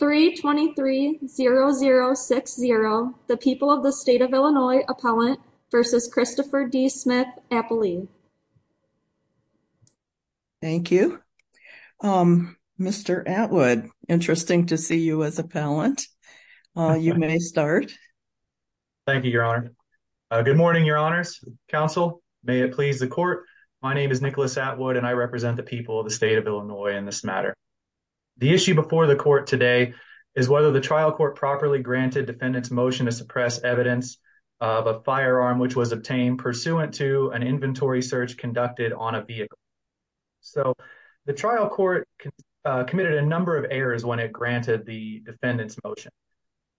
323-0060 The People of the State of Illinois Appellant v. Christopher D. Smith Appellee Thank you. Mr. Atwood, interesting to see you as appellant. You may start. Thank you, Your Honor. Good morning, Your Honors, Counsel. May it please the Court. My name is Nicholas Atwood and I represent the people of the State of Illinois in this matter. The issue before the Court today is whether the trial court properly granted defendant's motion to suppress evidence of a firearm which was obtained pursuant to an inventory search conducted on a vehicle. So the trial court committed a number of errors when it granted the defendant's motion.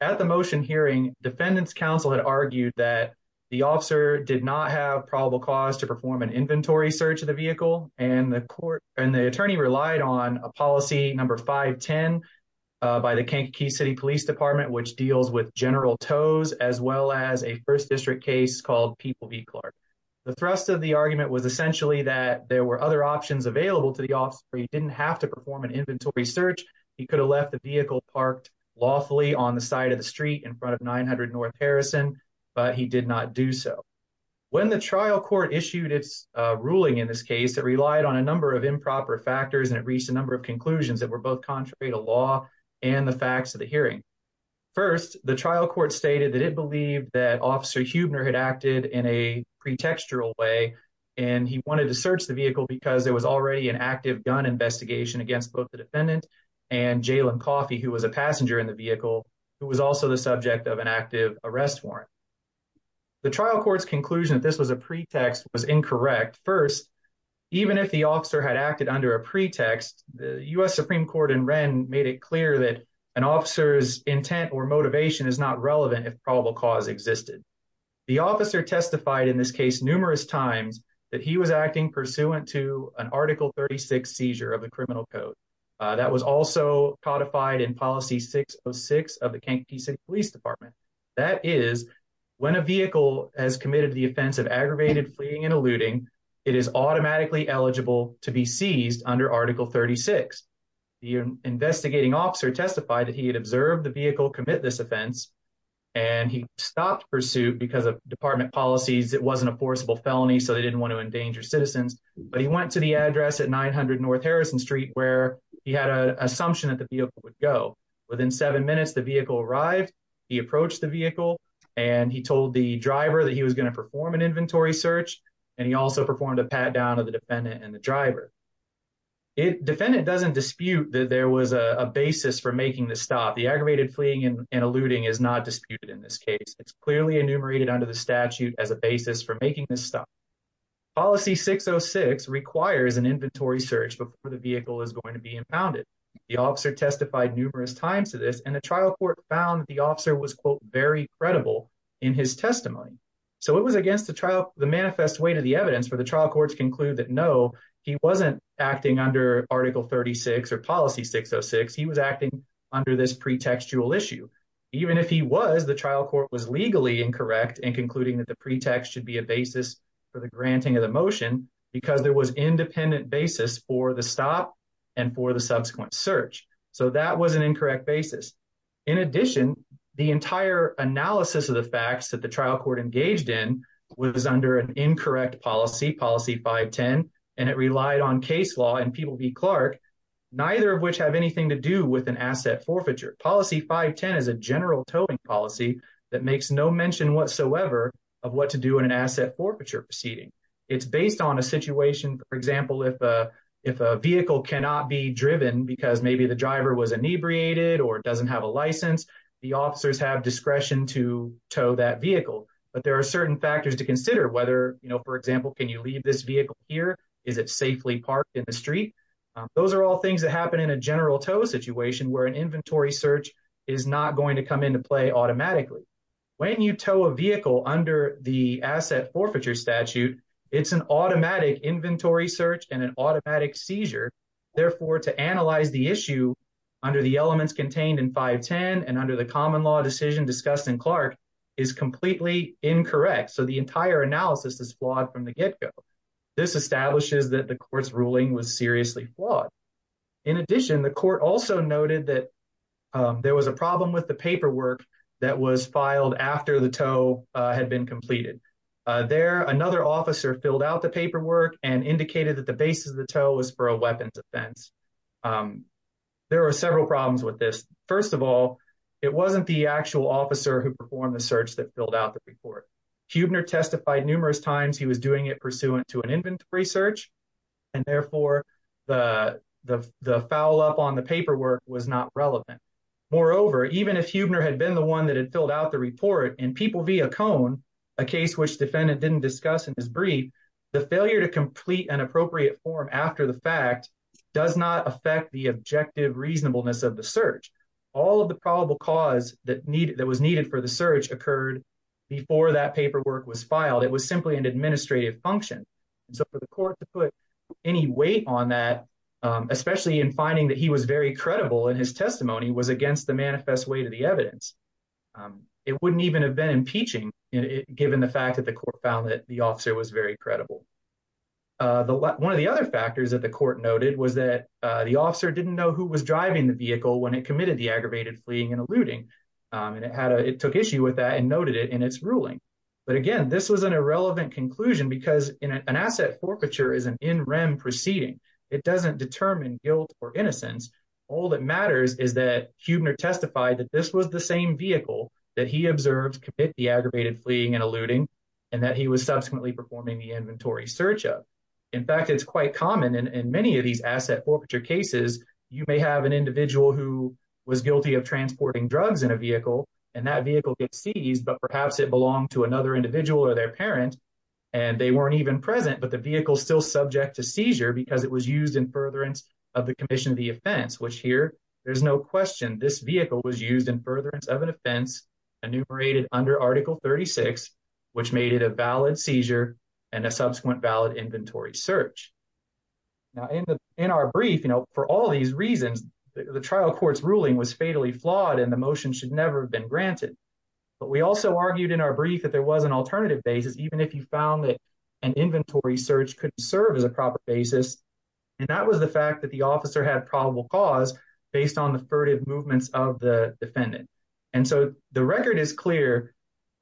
At the motion hearing, defendant's counsel had argued that the officer did not have probable cause to perform an inventory search of the vehicle and the attorney relied on a policy number 510 by the Kankakee City Police Department which deals with general tows as well as a first district case called People v. Clark. The thrust of the argument was essentially that there were other options available to the officer. He didn't have to perform an inventory search. He could have left the vehicle parked lawfully on the side of the street in front of 900 North Harrison, but he did not do so. When the trial court issued its ruling in this case, it relied on a number of improper factors and it reached a number of conclusions that were both contrary to law and the facts of the hearing. First, the trial court stated that it believed that Officer Huebner had acted in a pretextual way and he wanted to search the vehicle because there was already an active gun investigation against both the defendant and Jalen Coffey, who was a passenger in the The trial court's conclusion that this was a pretext was incorrect. First, even if the officer had acted under a pretext, the U.S. Supreme Court in Wren made it clear that an officer's intent or motivation is not relevant if probable cause existed. The officer testified in this case numerous times that he was acting pursuant to an article 36 seizure of the criminal code. That was also codified in Policy 606 of the Kentucky City Police Department. That is, when a vehicle has committed the offense of aggravated fleeing and eluding, it is automatically eligible to be seized under Article 36. The investigating officer testified that he had observed the vehicle commit this offense and he stopped pursuit because of department policies. It wasn't a forcible felony, so they didn't want to endanger citizens, but he went to the address at 900 North Harrison Street where he had an assumption that the vehicle would go. Within seven minutes, the vehicle arrived. He approached the vehicle and he told the driver that he was going to perform an inventory search and he also performed a pat down of the defendant and the driver. The defendant doesn't dispute that there was a basis for making this stop. The aggravated fleeing and eluding is not disputed in this case. It's requires an inventory search before the vehicle is going to be impounded. The officer testified numerous times to this and the trial court found the officer was quote very credible in his testimony. So it was against the trial, the manifest way to the evidence for the trial courts conclude that no, he wasn't acting under Article 36 or Policy 606. He was acting under this pretextual issue. Even if he was, the trial court was legally incorrect in concluding that the pretext should be a basis for the granting of the motion because there was independent basis for the stop and for the subsequent search. So that was an incorrect basis. In addition, the entire analysis of the facts that the trial court engaged in was under an incorrect policy, Policy 510, and it relied on case law and People v. Clark, neither of which have anything to do with an asset forfeiture. Policy 510 is a general towing policy that makes no mention whatsoever of what to do in an asset forfeiture proceeding. It's based on a situation, for example, if a vehicle cannot be driven because maybe the driver was inebriated or doesn't have a license, the officers have discretion to tow that vehicle. But there are certain factors to consider whether, you know, for example, can you leave this vehicle here? Is it safely parked in the street? Those are all things that happen in a general tow situation where an inventory search is not going to come into play automatically. When you tow a vehicle under the asset forfeiture statute, it's an automatic inventory search and an automatic seizure. Therefore, to analyze the issue under the elements contained in 510 and under the common law decision discussed in Clark is completely incorrect. So the entire analysis is flawed from the get-go. This establishes that the court's ruling was seriously flawed. In addition, the court also noted that there was a problem with the paperwork that was filed after the tow had been completed. There, another officer filled out the paperwork and indicated that the basis of the tow was for a weapons offense. There are several problems with this. First of all, it wasn't the actual officer who performed the search that filled out the report. Huebner testified numerous times he was doing it pursuant to an inventory search and therefore the foul up on the paperwork was not relevant. Moreover, even if Huebner had been the one that had filled out the report in People v. Ocone, a case which defendant didn't discuss in his brief, the failure to complete an appropriate form after the fact does not affect the objective reasonableness of the search. All of the probable cause that was needed for the search occurred before that paperwork was filed. It was simply an administrative function. For the court to put any weight on that, especially in finding that he was very credible in his testimony, was against the manifest way to the evidence. It wouldn't even have been impeaching given the fact that the court found that the officer was very credible. One of the other factors that the court noted was that the officer didn't know who was driving the vehicle when it committed the aggravated fleeing and eluding. It took issue with that and noted it in its ruling. But again, this was an irrelevant conclusion because an asset forfeiture is an in rem proceeding. It doesn't determine guilt or innocence. All that matters is that Huebner testified that this was the same vehicle that he observed commit the aggravated fleeing and eluding and that he was subsequently performing the inventory search of. In fact, it's quite common in many of these asset forfeiture cases, you may have an individual who was guilty of transporting drugs in a vehicle and that vehicle gets seized, but perhaps it belonged to another individual or their parent and they weren't even present. But the vehicle still subject to seizure because it was used in furtherance of the commission of the offense, which here there's no question this vehicle was used in furtherance of an offense enumerated under article 36, which made it a valid seizure and a subsequent valid inventory search. Now in the, in our brief, you know, for all these reasons, the trial court's ruling was fatally flawed and the motion should never have been granted. But we also argued in our brief that there was an alternative basis, even if you found that an inventory search could serve as a proper basis. And that was the fact that the officer had probable cause based on the furtive movements of the defendant. And so the record is clear.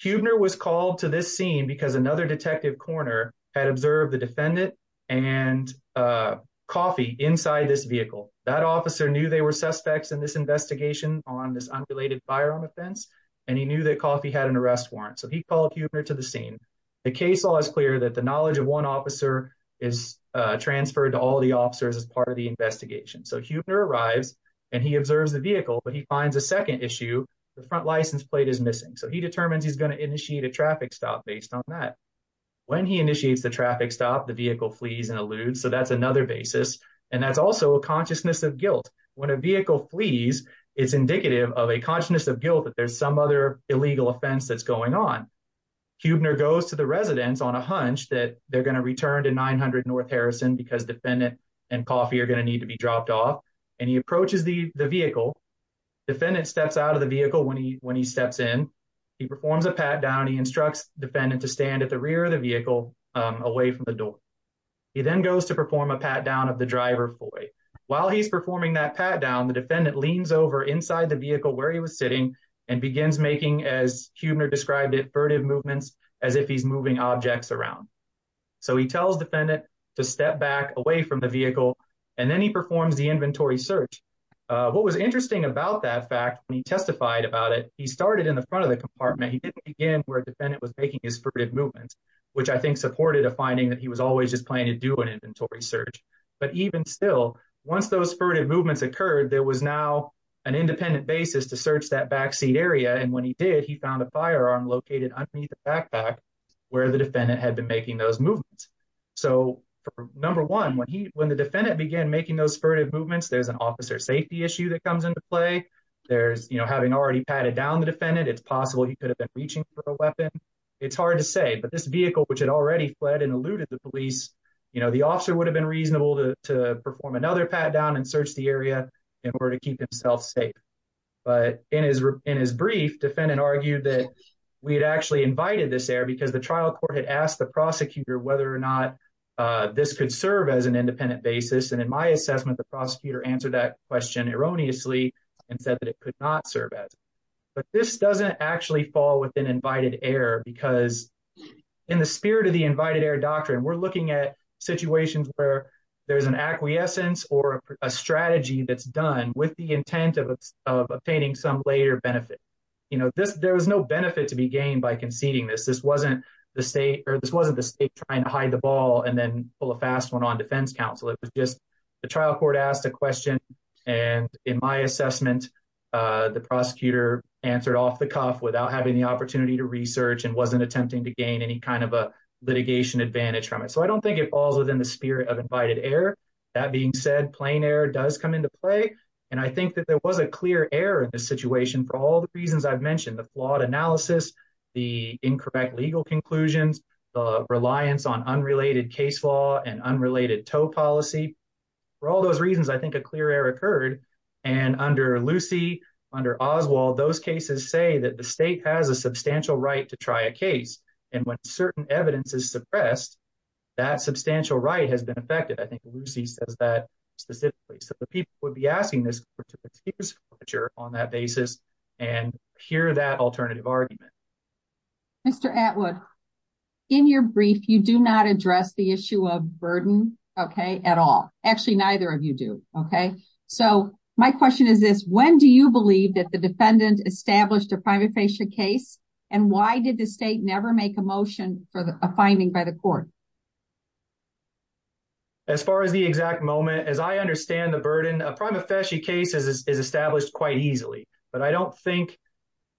Huebner was called to this scene because another detective coroner had observed the defendant and coffee inside this vehicle. That officer knew they were suspects in this investigation on this unrelated firearm offense, and he knew that coffee had an arrest warrant. So he called Huebner to the scene. The case law is clear that the knowledge of one officer is transferred to all the officers as part of the investigation. So Huebner arrives and he observes the vehicle, but he finds a second issue. The front license plate is missing. So he determines he's going to initiate a traffic stop based on that. When he initiates the traffic stop, the vehicle flees and alludes. So that's another basis. And that's also a consciousness of guilt. When a vehicle flees, it's indicative of a consciousness of guilt that there's some other illegal offense that's going on. Huebner goes to the residence on a hunch that they're going to return to 900 North Harrison because defendant and coffee are going to need to be dropped off. And he approaches the vehicle. Defendant steps out of the vehicle when he steps in. He performs a pat down. He instructs defendant to stand at the rear of the vehicle away from the door. He then goes to perform a pat down of the driver. While he's performing that pat down, the defendant leans over inside the vehicle where he was sitting and begins making, as Huebner described it, furtive movements as if he's moving objects around. So he tells defendant to step back away from the vehicle, and then he performs the inventory search. What was interesting about that fact, when he testified about it, he started in the front of the compartment. He didn't begin where defendant was making his furtive movements, which I think supported a finding that he was always just planning to do an inventory search. But even still, once those furtive movements occurred, there was now an independent basis to search that backseat area. And when he did, he found a firearm located underneath the backpack where the defendant had been making those movements. So, number one, when the defendant began making those furtive movements, there's an officer safety issue that comes into play. There's, you know, having already patted down the defendant, it's possible he could have been reaching for a weapon. It's hard to say, but this vehicle, which had already fled and eluded the police, you know, the officer would have been reasonable to perform another pat down and search the area in order to keep himself safe. But in his brief, defendant argued that we had actually invited this error because the trial court had asked the prosecutor whether or not this could serve as an independent basis. And in my assessment, the prosecutor answered that question erroneously and said that it could not serve as. But this doesn't actually fall within invited error because in the spirit of the invited error doctrine, we're looking at situations where there's an acquiescence or a strategy that's done with the intent of obtaining some later benefit. You know, there was no benefit to be gained by conceding this. This wasn't the state or this wasn't the state trying to hide the ball and then pull a fast one on defense counsel. It was just the trial court asked a question. And in my assessment, the prosecutor answered off the cuff without having the opportunity to research and wasn't attempting to gain any kind of a litigation advantage from it. So I don't think it falls within the spirit of invited error. That being said, plain error does come into play. And I think that there was a clear error in this situation for all the reasons I've mentioned, the flawed analysis, the incorrect legal conclusions, the reliance on unrelated case law and unrelated tow policy. For all those reasons, I think a clear error occurred. And under Lucy, under Oswald, those cases say that the state has a substantial right to try a case. And when certain evidence is suppressed, that substantial right has been affected. I think Lucy says that specifically. So the people would be asking this question on that basis and hear that alternative argument. Mr. Atwood, in your brief, you do not address the issue of burden, okay, at all. Actually, neither of you do. Okay. So my question is this, when do you believe that the defendant established a prima facie case? And why did the state never make a motion for a finding by the court? As far as the exact moment, as I understand the burden of prima facie cases is established quite easily. But I don't think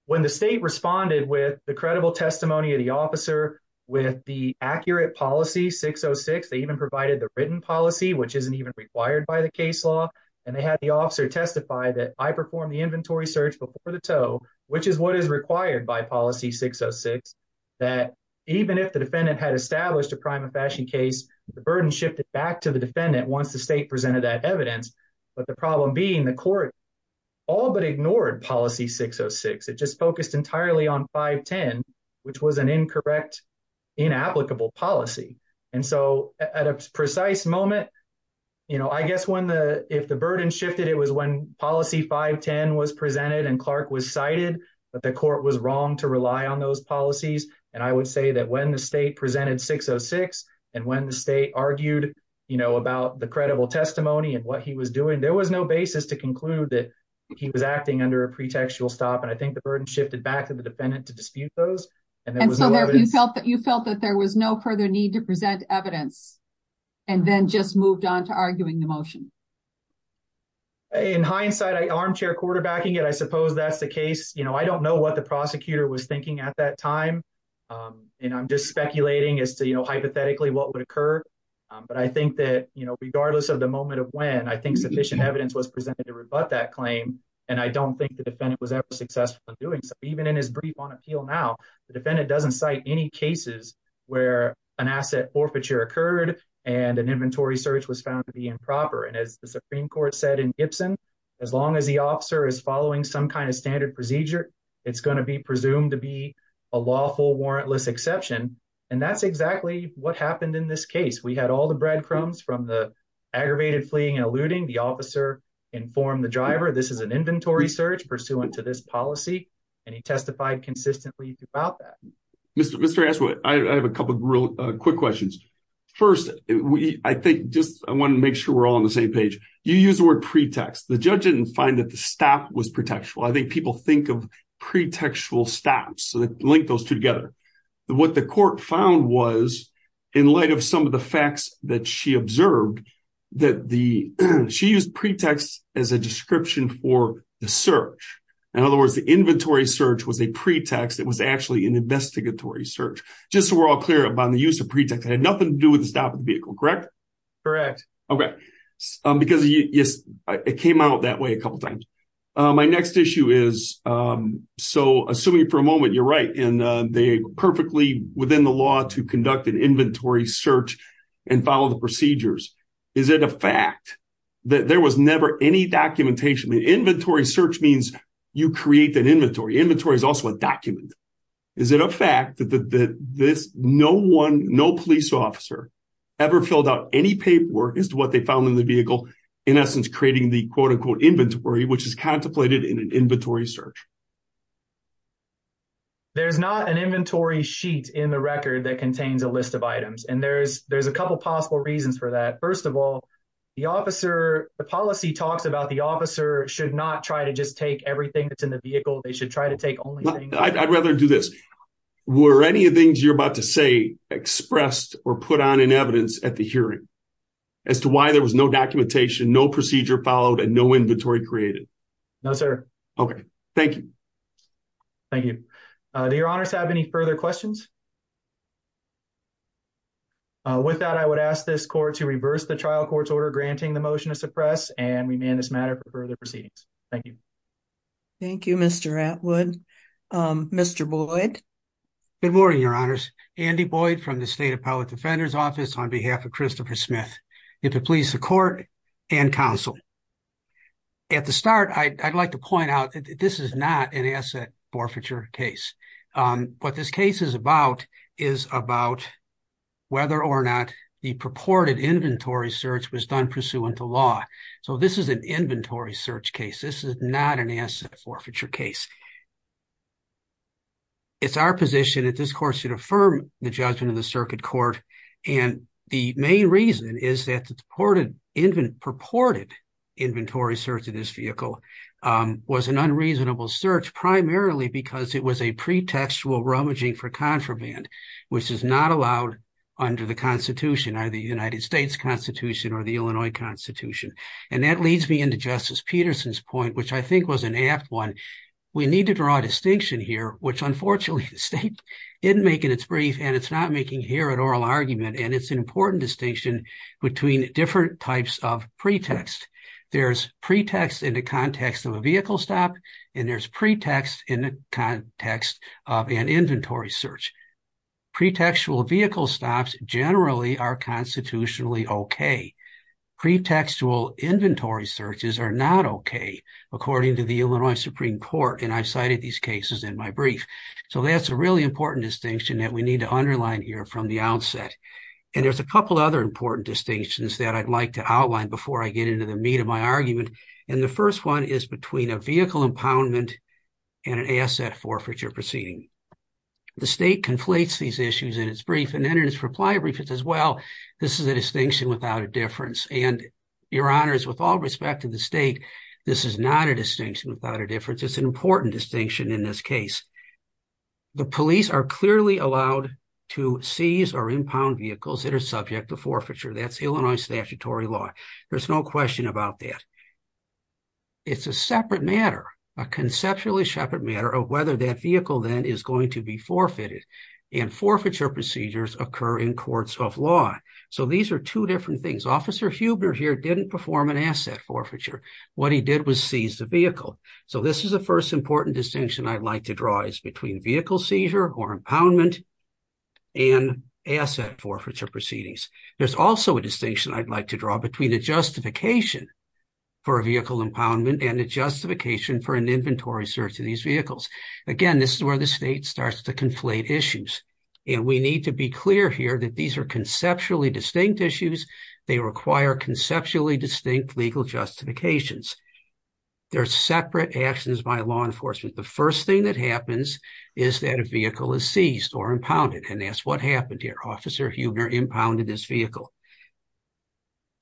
when the state responded with the credible testimony of the officer with the accurate policy 606, they even provided the written policy, which isn't even required by the case law. And they had the officer testify that I performed the inventory search before the tow, which is what is required by policy 606, that even if the defendant had established a prima facie case, the burden shifted back to the defendant once the state presented that evidence. But the problem being the court all but ignored policy 606. It just focused entirely on 510, which was an incorrect, inapplicable policy. And so at a precise moment, you know, I guess when the, if the burden shifted, it was when policy 510 was presented and Clark was cited, but the court was wrong to rely on those policies. And I would say that when the state presented 606 and when the state argued, you know, about the credible testimony and what he was doing, there was no basis to conclude that he was acting under a pretextual stop. And I think the burden shifted back to the defendant to dispute those. And then you felt that you felt that there was no further need to present evidence and then just moved on to arguing the motion. In hindsight, I armchair quarterbacking it. I suppose that's the case. You know, I don't know what the prosecutor was thinking at that time. And I'm just speculating as to, hypothetically, what would occur. But I think that, you know, regardless of the moment of when I think sufficient evidence was presented to rebut that claim. And I don't think the defendant was ever successful in doing so. Even in his brief on appeal now, the defendant doesn't cite any cases where an asset forfeiture occurred and an inventory search was found to be improper. And as the Supreme Court said in Gibson, as long as the officer is following some kind of standard procedure, it's going to be presumed to be a lawful warrantless exception. And that's exactly what happened in this case. We had all the breadcrumbs from the aggravated fleeing and eluding. The officer informed the driver, this is an inventory search pursuant to this policy. And he testified consistently about that. Mr. Ashwood, I have a couple of real quick questions. First, I think just I want to make sure we're all on the same page. You use the word pretext. The judge didn't find that the stop was pretextual. I think people think of pretextual stops, so they link those two together. What the court found was, in light of some of the facts that she observed, that she used pretext as a description for the search. In other words, the inventory search was a pretext. It was actually an investigatory search. Just so we're all clear about the use of pretext, it had nothing to do with the stop of the vehicle, correct? Correct. Okay. Because it came out that way a couple of times. My next issue is, so assuming for a moment you're right, and they're perfectly within the law to conduct an inventory search and follow the procedures, is it a fact that there was never any documentation? Inventory search means you create an inventory. Inventory is also a document. Is it a fact that no police officer ever filled out any paperwork as to what they found in the vehicle, in essence, creating the quote-unquote inventory, which is contemplated in an inventory search? There's not an inventory sheet in the record that contains a list of items. And there's a couple possible reasons for that. First of all, the officer, the policy talks about the officer should not try to just take everything that's in the vehicle. They should try to take only... I'd rather do this. Were any of the things you're about to say expressed or put on in evidence at the hearing as to why there was no documentation, no procedure followed, and no inventory created? No, sir. Okay. Thank you. Thank you. Do your honors have any further questions? With that, I would ask this court to reverse the trial court's order granting the motion to suppress and remand this matter for further proceedings. Thank you. Thank you, Mr. Atwood. Mr. Boyd? Good morning, your honors. Andy Boyd from the State Appellate Defender's Office on behalf of Christopher Smith. If it please the court and counsel, at the start, I'd like to point out this is not an asset forfeiture case. What this case is about is about whether or not the purported inventory search was done pursuant to law. So this is an inventory search case. This is not an asset forfeiture case. It's our position that this court should affirm the judgment of the circuit court. And the main reason is that the purported inventory search of this vehicle was an unreasonable search primarily because it was a pretextual rummaging for contraband, which is not allowed under the Constitution, either the United States Constitution or the Illinois Constitution. And that leads me into Justice Peterson's point, which I think was an apt one. We need to draw a distinction here, which unfortunately the state didn't make in its brief, and it's not making here an oral argument. And it's an important distinction between different types of pretext. There's pretext in the context of a vehicle stop, and there's pretext in the context of an inventory search. Pretextual vehicle stops generally are constitutionally okay. Pretextual inventory searches are not okay, according to the Illinois Supreme Court, and I've cited these cases in my brief. So that's a really important distinction that we need to underline here from the outset. And there's a couple other important distinctions that I'd like to outline before I get into the meat of my argument. And the first one is between a vehicle impoundment and an asset forfeiture proceeding. The state conflates these issues in its brief and then its reply brief as well. This is a distinction without a difference. And your honors, with all respect to the state, this is not a distinction without a difference. It's an important distinction in this case. The police are clearly allowed to seize or impound vehicles that are subject to forfeiture. That's Illinois statutory law. There's no question about that. It's a separate matter, a conceptually separate matter of whether that vehicle then is going to be forfeited. And forfeiture procedures occur in courts of law. So these are two different things. Officer Huebner here didn't perform an asset forfeiture. What he did was seize the vehicle. So this is the first important distinction I'd like to draw is between vehicle seizure or impoundment and asset forfeiture proceedings. There's also a distinction I'd like to draw between a justification for a vehicle impoundment and a justification for an inventory search of these vehicles. Again, this is where the state starts to conflate issues. And we need to be clear here that these are conceptually distinct issues. They require conceptually distinct legal justifications. They're separate actions by law enforcement. The first thing that happens is that a vehicle is seized or impounded. And that's what happened here. Officer Huebner impounded this vehicle.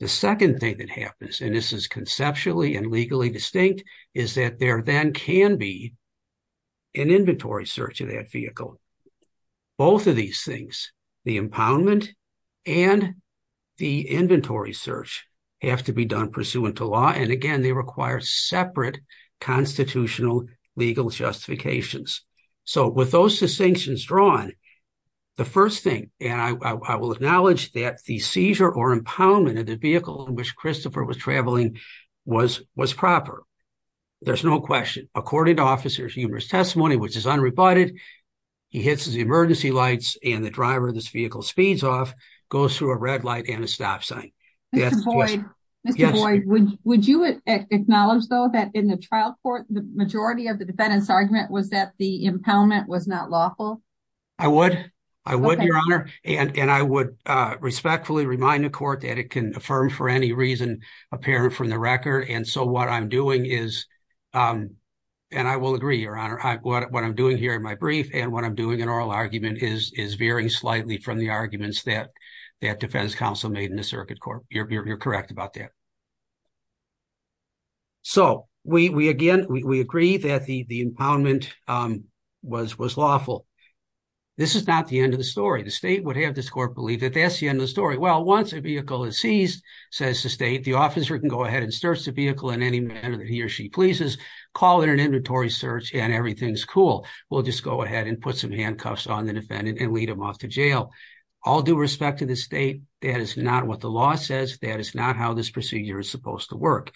The second thing that happens, and this is conceptually and legally distinct, is that there then can be an inventory search of that vehicle. Both of these things, the impoundment and the inventory search have to be done pursuant to law. And again, they require separate constitutional legal justifications. So with those distinctions drawn, the first thing, and I will acknowledge that the seizure or impoundment of the vehicle in which Christopher was traveling was proper. There's no question. According to Officer Huebner's testimony, which is unrebutted, he hits his emergency lights and the driver of this vehicle speeds off, goes through a red light and a stop sign. Mr. Boyd, would you acknowledge, though, that in the trial court, the majority of the defendant's argument was that the impoundment was not lawful? I would. I would, Your Honor. And I would respectfully remind the court that it can affirm for any reason apparent from the record. And so what I'm doing is, and I will agree, Your Honor, what I'm doing here in my brief and what I'm doing in oral argument is varying slightly from the arguments that that defense counsel made in the circuit court. You're correct about that. So we again, we agree that the impoundment was lawful. This is not the end of the story. The state would have this court believe that that's the end of the story. Well, once a vehicle is seized, says the state, the officer can go ahead and search the vehicle in any manner that he or she pleases, call it an inventory search, and everything's cool. We'll just go ahead and put some handcuffs on the defendant and lead him off to jail. All due respect to the state, that is not what the law says. That is not how this procedure is supposed to work.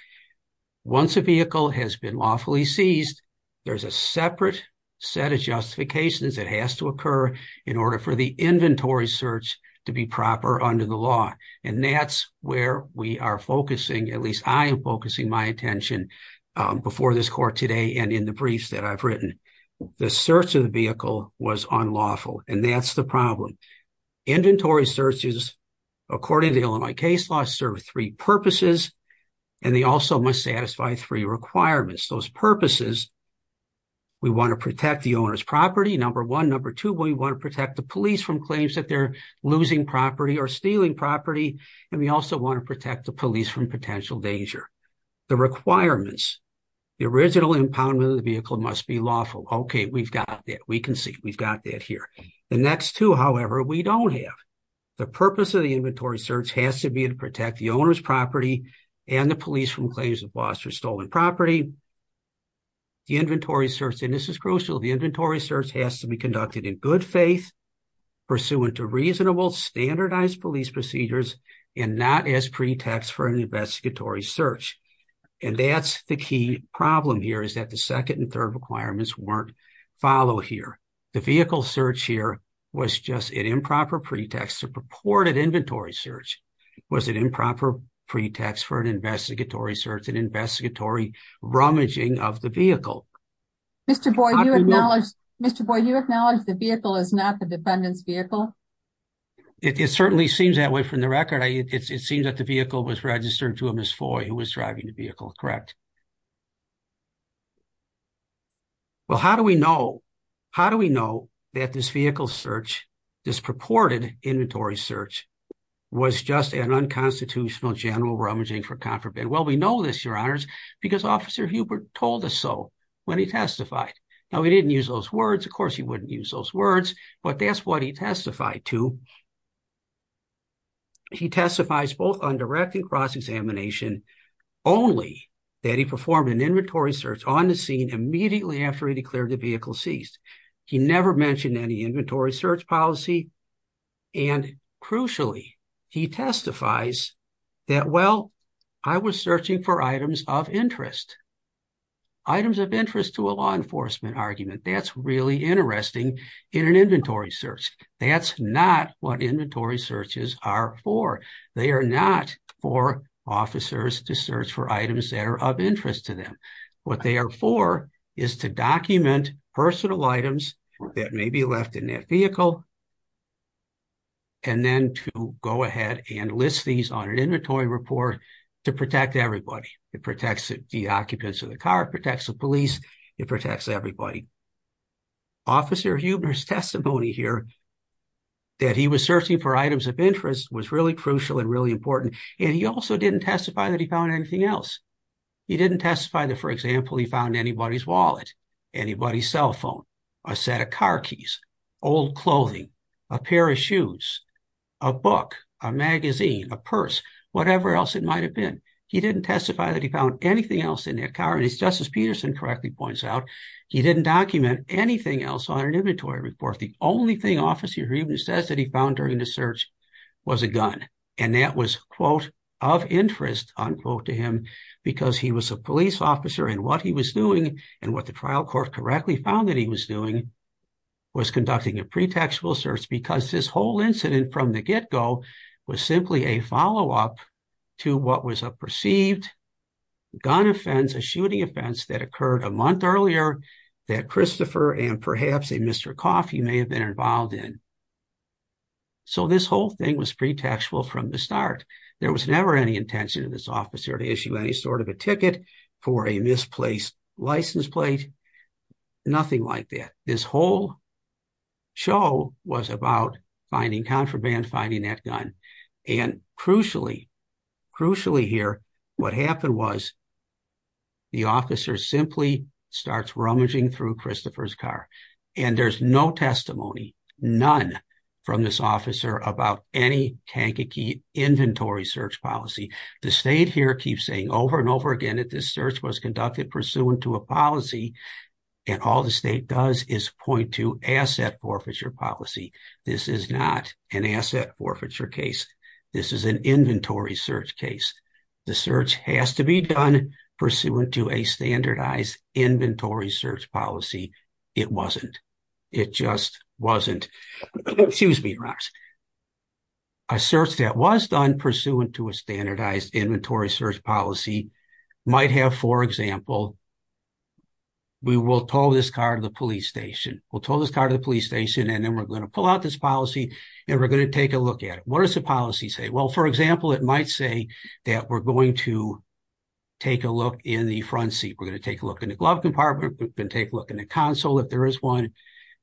Once a vehicle has been lawfully seized, there's a separate set of justifications that has to occur in order for the inventory search to be proper under the law. And that's where we are focusing, at least I am focusing my attention before this court today and in the briefs that I've written. The search of the vehicle was unlawful, and that's the problem. Inventory searches, according to the Illinois case law, serve three purposes, and they also must satisfy three requirements. Those purposes, we want to protect the owner's property, number one. Number two, we want to protect the police from claims that they're losing property or stealing property, and we also want to protect the police from potential danger. The requirements, the original impoundment of the vehicle must be lawful. Okay, we've got that. We can see we've got that here. The next two, however, we don't have. The purpose of the inventory search has to be to protect the stolen property. The inventory search, and this is crucial, the inventory search has to be conducted in good faith, pursuant to reasonable standardized police procedures, and not as pretext for an investigatory search. And that's the key problem here, is that the second and third requirements weren't followed here. The vehicle search here was just an improper pretext. The purported inventory search was an improper pretext for an investigatory search, an investigatory rummaging of the vehicle. Mr. Boyd, you acknowledge, Mr. Boyd, you acknowledge the vehicle is not the defendant's vehicle? It certainly seems that way from the record. It seems that the vehicle was registered to a misfoy who was driving the vehicle, correct. Well, how do we know, how do we know that this vehicle search, this purported inventory search, was just an unconstitutional general rummaging for contraband? Well, we know this, Your Honors, because Officer Hubert told us so when he testified. Now, he didn't use those words. Of course, he wouldn't use those words, but that's what he testified to. He testifies both on direct and cross-examination, only that he performed an inventory search on the immediately after he declared the vehicle ceased. He never mentioned any inventory search policy, and crucially, he testifies that, well, I was searching for items of interest, items of interest to a law enforcement argument. That's really interesting in an inventory search. That's not what inventory searches are for. They are not for officers to search for items that are of interest to them. What they are for is to document personal items that may be left in that vehicle and then to go ahead and list these on an inventory report to protect everybody. It protects the occupants of the car, protects the police, it protects everybody. Officer Hubert's testimony here that he was searching for items of interest was really crucial and really important, and he also didn't testify that he found anything else. He didn't testify that, for example, he found anybody's wallet, anybody's cell phone, a set of car keys, old clothing, a pair of shoes, a book, a magazine, a purse, whatever else it might have been. He didn't testify that he found anything else in that car, and as Justice Peterson correctly points out, he didn't document anything else on an inventory report. The only thing Officer Hubert says that he found during the search was a gun, and that was, quote, of interest, unquote, to him because he was a police officer and what he was doing and what the trial court correctly found that he was doing was conducting a pretextual search because this whole incident from the get-go was simply a follow-up to what was a perceived gun offense, a shooting offense that occurred a month earlier that Christopher and perhaps a Mr. Coffey may have been involved in. So this whole thing was pretextual from the start. There was never any intention of this officer to issue any sort of a ticket for a misplaced license plate, nothing like that. This whole show was about finding contraband, finding that gun, and crucially, crucially here, what happened was the officer simply starts rummaging through Christopher's car, and there's no testimony, none from this officer about any kankakee inventory search policy. The state here keeps saying over and over again that this search was conducted pursuant to a policy, and all the state does is point to asset forfeiture policy. This is not an asset forfeiture case. This is an inventory search case. The search has to be done pursuant to a standardized inventory search policy. It wasn't. It just wasn't. Excuse me, Ross. A search that was done pursuant to a standardized inventory search policy might have, for example, we will tow this car to the police station. We'll tow this car to the police station, and then we're going to pull out this policy, and we're going to take a look at it. What does the policy say? Well, for example, it might say that we're going to take a look in the front seat. We're going to take a look in the glove compartment. We can take a look in the console if there is one.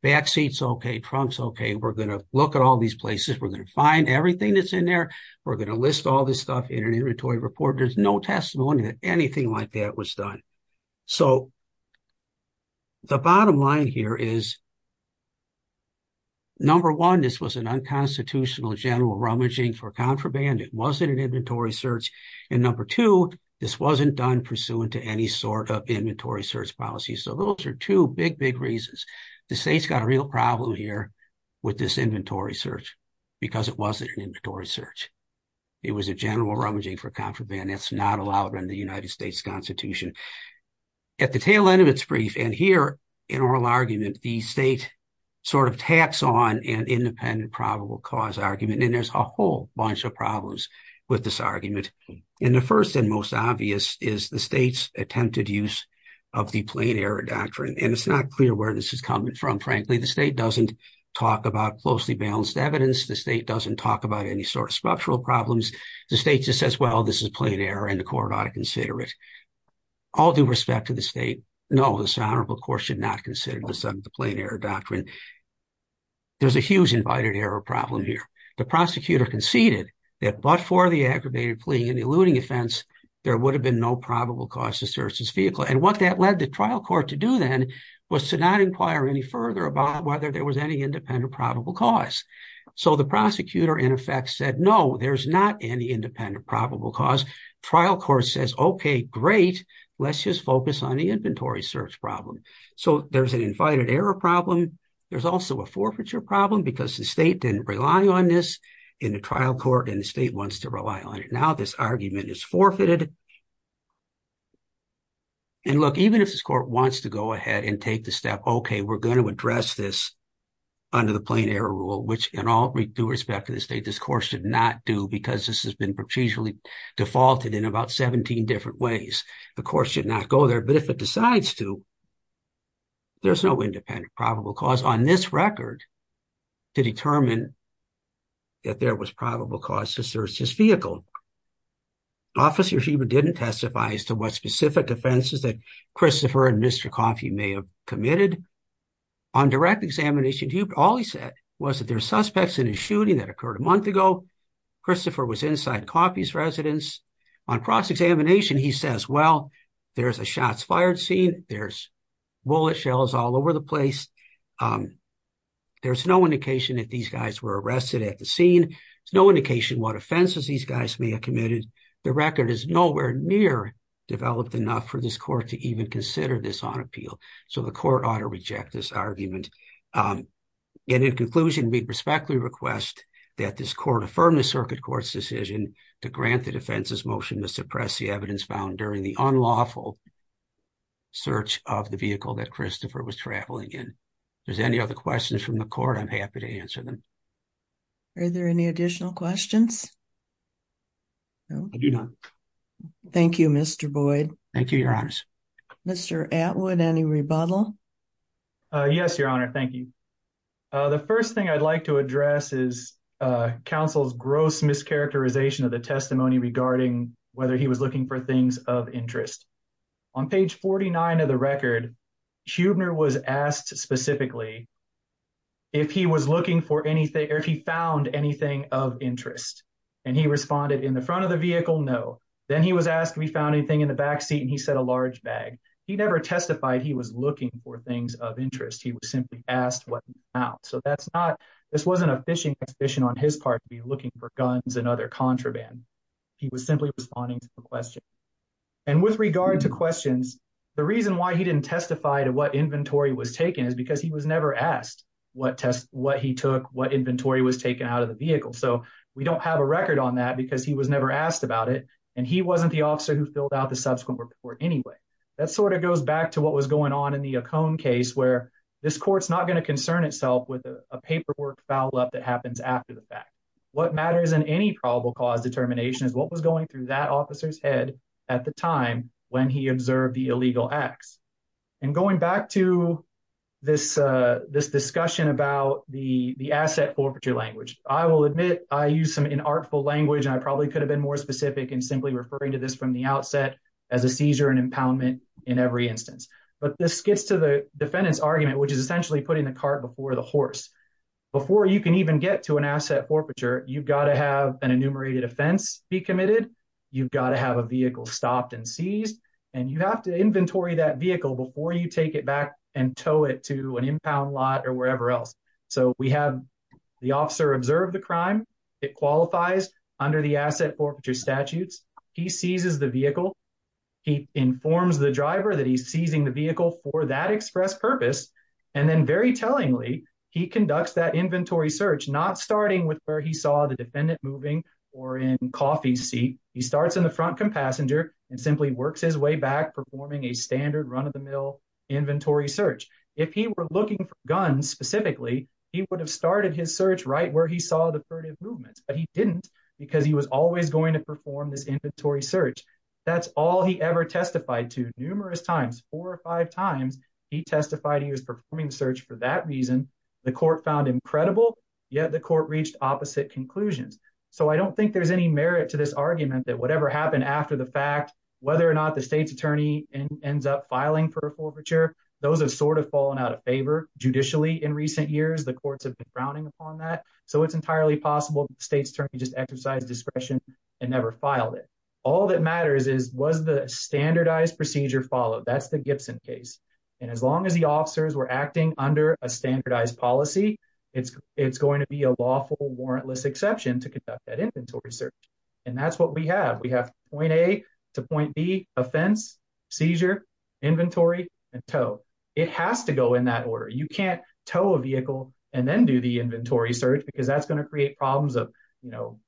Backseat's okay. Trunk's okay. We're going to look at all these places. We're going to find everything that's in there. We're going to list all this stuff in an inventory report. There's no testimony that anything like that was done. So the bottom line here is, number one, this was an unconstitutional general rummaging for contraband. It wasn't an inventory search. And number two, this wasn't done pursuant to any sort of inventory search policy. So those are two big, big reasons. The state's got a real problem here with this inventory search, because it wasn't an inventory search. It was a general rummaging for contraband. That's not allowed under the United States Constitution. At the tail end of its brief, and here in oral argument, the state sort of taps on an independent probable cause argument, and there's a whole bunch of problems with this argument. And the first and most obvious is the state's attempted use of the plain error doctrine. And it's not clear where this is coming from, frankly. The state doesn't talk about closely balanced evidence. The state doesn't talk about any sort of structural problems. The state just says, well, this is plain error, and the court ought to consider this under the plain error doctrine. There's a huge invited error problem here. The prosecutor conceded that but for the aggravated fleeing and eluding offense, there would have been no probable cause to search his vehicle. And what that led the trial court to do then was to not inquire any further about whether there was any independent probable cause. So the prosecutor, in effect, said, no, there's not any independent probable cause. Trial court says, okay, great, let's just focus on the inventory search problem. So there's an invited error problem. There's also a forfeiture problem because the state didn't rely on this in the trial court, and the state wants to rely on it. Now this argument is forfeited. And look, even if this court wants to go ahead and take the step, okay, we're going to address this under the plain error rule, which in all due respect to the state, this court should not do because this has been procedurally defaulted in about 17 different ways. The court should not go there. But if it decides to, there's no independent probable cause on this record to determine that there was probable cause to search his vehicle. Officer Schieber didn't testify as to what specific defenses that Christopher and Mr. Coffey may have committed. On direct examination, all he said was that there are suspects in a shooting that occurred a month ago. Christopher was inside Coffey's residence. On cross-examination, he says, well, there's a shots fired scene. There's bullet shells all over the place. There's no indication that these guys were arrested at the scene. There's no indication what offenses these guys may have committed. The record is nowhere near developed enough for this court to even consider this on appeal. So the court ought to reject this argument. And in conclusion, we prospectively request that this court affirm the circuit court's decision to grant the defense's motion to suppress the evidence found during the unlawful search of the vehicle that Christopher was traveling in. If there's any other questions from the court, I'm happy to answer them. Are there any additional questions? No. I do not. Thank you, Mr. Boyd. Thank you, Your Honor. Mr. Atwood, any rebuttal? Yes, Your Honor. Thank you. The first thing I'd like to address is counsel's gross mischaracterization of the testimony regarding whether he was looking for things of interest. On page 49 of the record, Huebner was asked specifically if he was looking for anything, if he found anything of interest. And he responded, in the front of the vehicle, no. Then he was asked if he found anything in the backseat, and he said a large bag. He never testified he was looking for things of interest. He was simply asked what he found. So that's not, this wasn't a fishing expedition on his part to be looking for guns and other contraband. He was simply responding to the question. And with regard to questions, the reason why he didn't testify to what inventory was taken is because he was never asked what test, what he took, what inventory was taken out of the vehicle. So we don't have a record on that because he was never asked about it. And he wasn't the officer who filled out the subsequent report anyway. That sort of goes back to what was going on in the Ocone case where this court's not going to concern itself with a paperwork foul up that happens after the fact. What matters in any probable cause determination is what was going through that officer's head at the time when he the asset forfeiture language. I will admit I used some inartful language, and I probably could have been more specific in simply referring to this from the outset as a seizure and impoundment in every instance. But this gets to the defendant's argument, which is essentially putting the cart before the horse. Before you can even get to an asset forfeiture, you've got to have an enumerated offense be committed. You've got to have a vehicle stopped and seized, and you have to inventory that or wherever else. So we have the officer observe the crime. It qualifies under the asset forfeiture statutes. He seizes the vehicle. He informs the driver that he's seizing the vehicle for that express purpose. And then very tellingly, he conducts that inventory search, not starting with where he saw the defendant moving or in coffee seat. He starts in the front passenger and simply works his way back, performing a standard run-of-the-mill inventory search. If he were looking for guns specifically, he would have started his search right where he saw the furtive movements. But he didn't because he was always going to perform this inventory search. That's all he ever testified to. Numerous times, four or five times, he testified he was performing the search for that reason. The court found him credible, yet the court reached opposite conclusions. So I don't think there's any merit to this argument that whatever happened after the fact, whether or not the state's attorney ends up filing for a forfeiture, those have sort of fallen out of favor judicially in recent years. The courts have been frowning upon that. So it's entirely possible the state's attorney just exercised discretion and never filed it. All that matters is was the standardized procedure followed? That's the Gibson case. And as long as the officers were acting under a standardized policy, it's going to be a lawful warrantless exception to conduct that inventory search. And that's what we have. We have point A to point B offense, seizure, inventory, and tow. It has to go in that order. You can't tow a vehicle and then do the inventory search because that's going to create problems of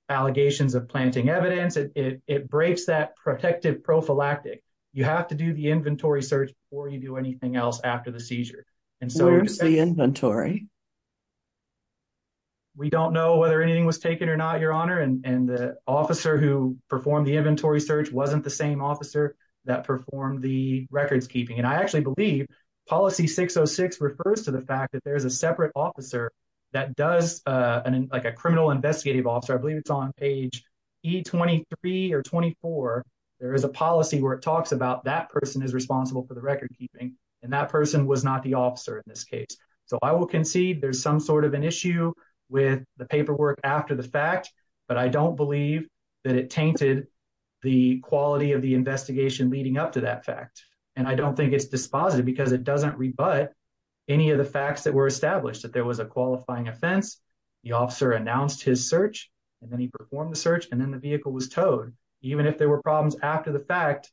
allegations of planting evidence. It breaks that protective prophylactic. You have to do the inventory search before you do anything else after the seizure. Where's the inventory? We don't know whether anything was taken or not, and the officer who performed the inventory search wasn't the same officer that performed the records keeping. And I actually believe policy 606 refers to the fact that there's a separate officer that does like a criminal investigative officer. I believe it's on page E23 or 24. There is a policy where it talks about that person is responsible for the record keeping and that person was not the officer in this case. So I will concede there's some sort of an issue with the paperwork after the fact, but I don't believe that it tainted the quality of the investigation leading up to that fact. And I don't think it's dispositive because it doesn't rebut any of the facts that were established that there was a qualifying offense. The officer announced his search, and then he performed the search, and then the vehicle was towed. Even if there were problems after the fact,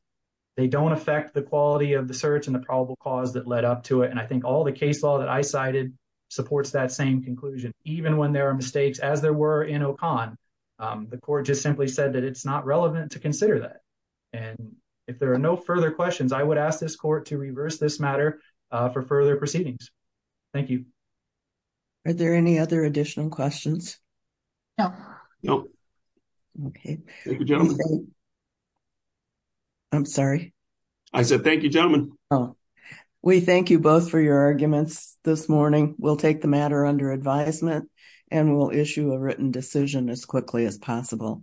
they don't affect the quality of the search and the probable cause that led up to it. And I think all the case law that I cited supports that same even when there are mistakes as there were in OCONN, the court just simply said that it's not relevant to consider that. And if there are no further questions, I would ask this court to reverse this matter for further proceedings. Thank you. Are there any other additional questions? No. No. Okay. I'm sorry. I said thank you, gentlemen. Oh, we thank you both for your advisement, and we'll issue a written decision as quickly as possible.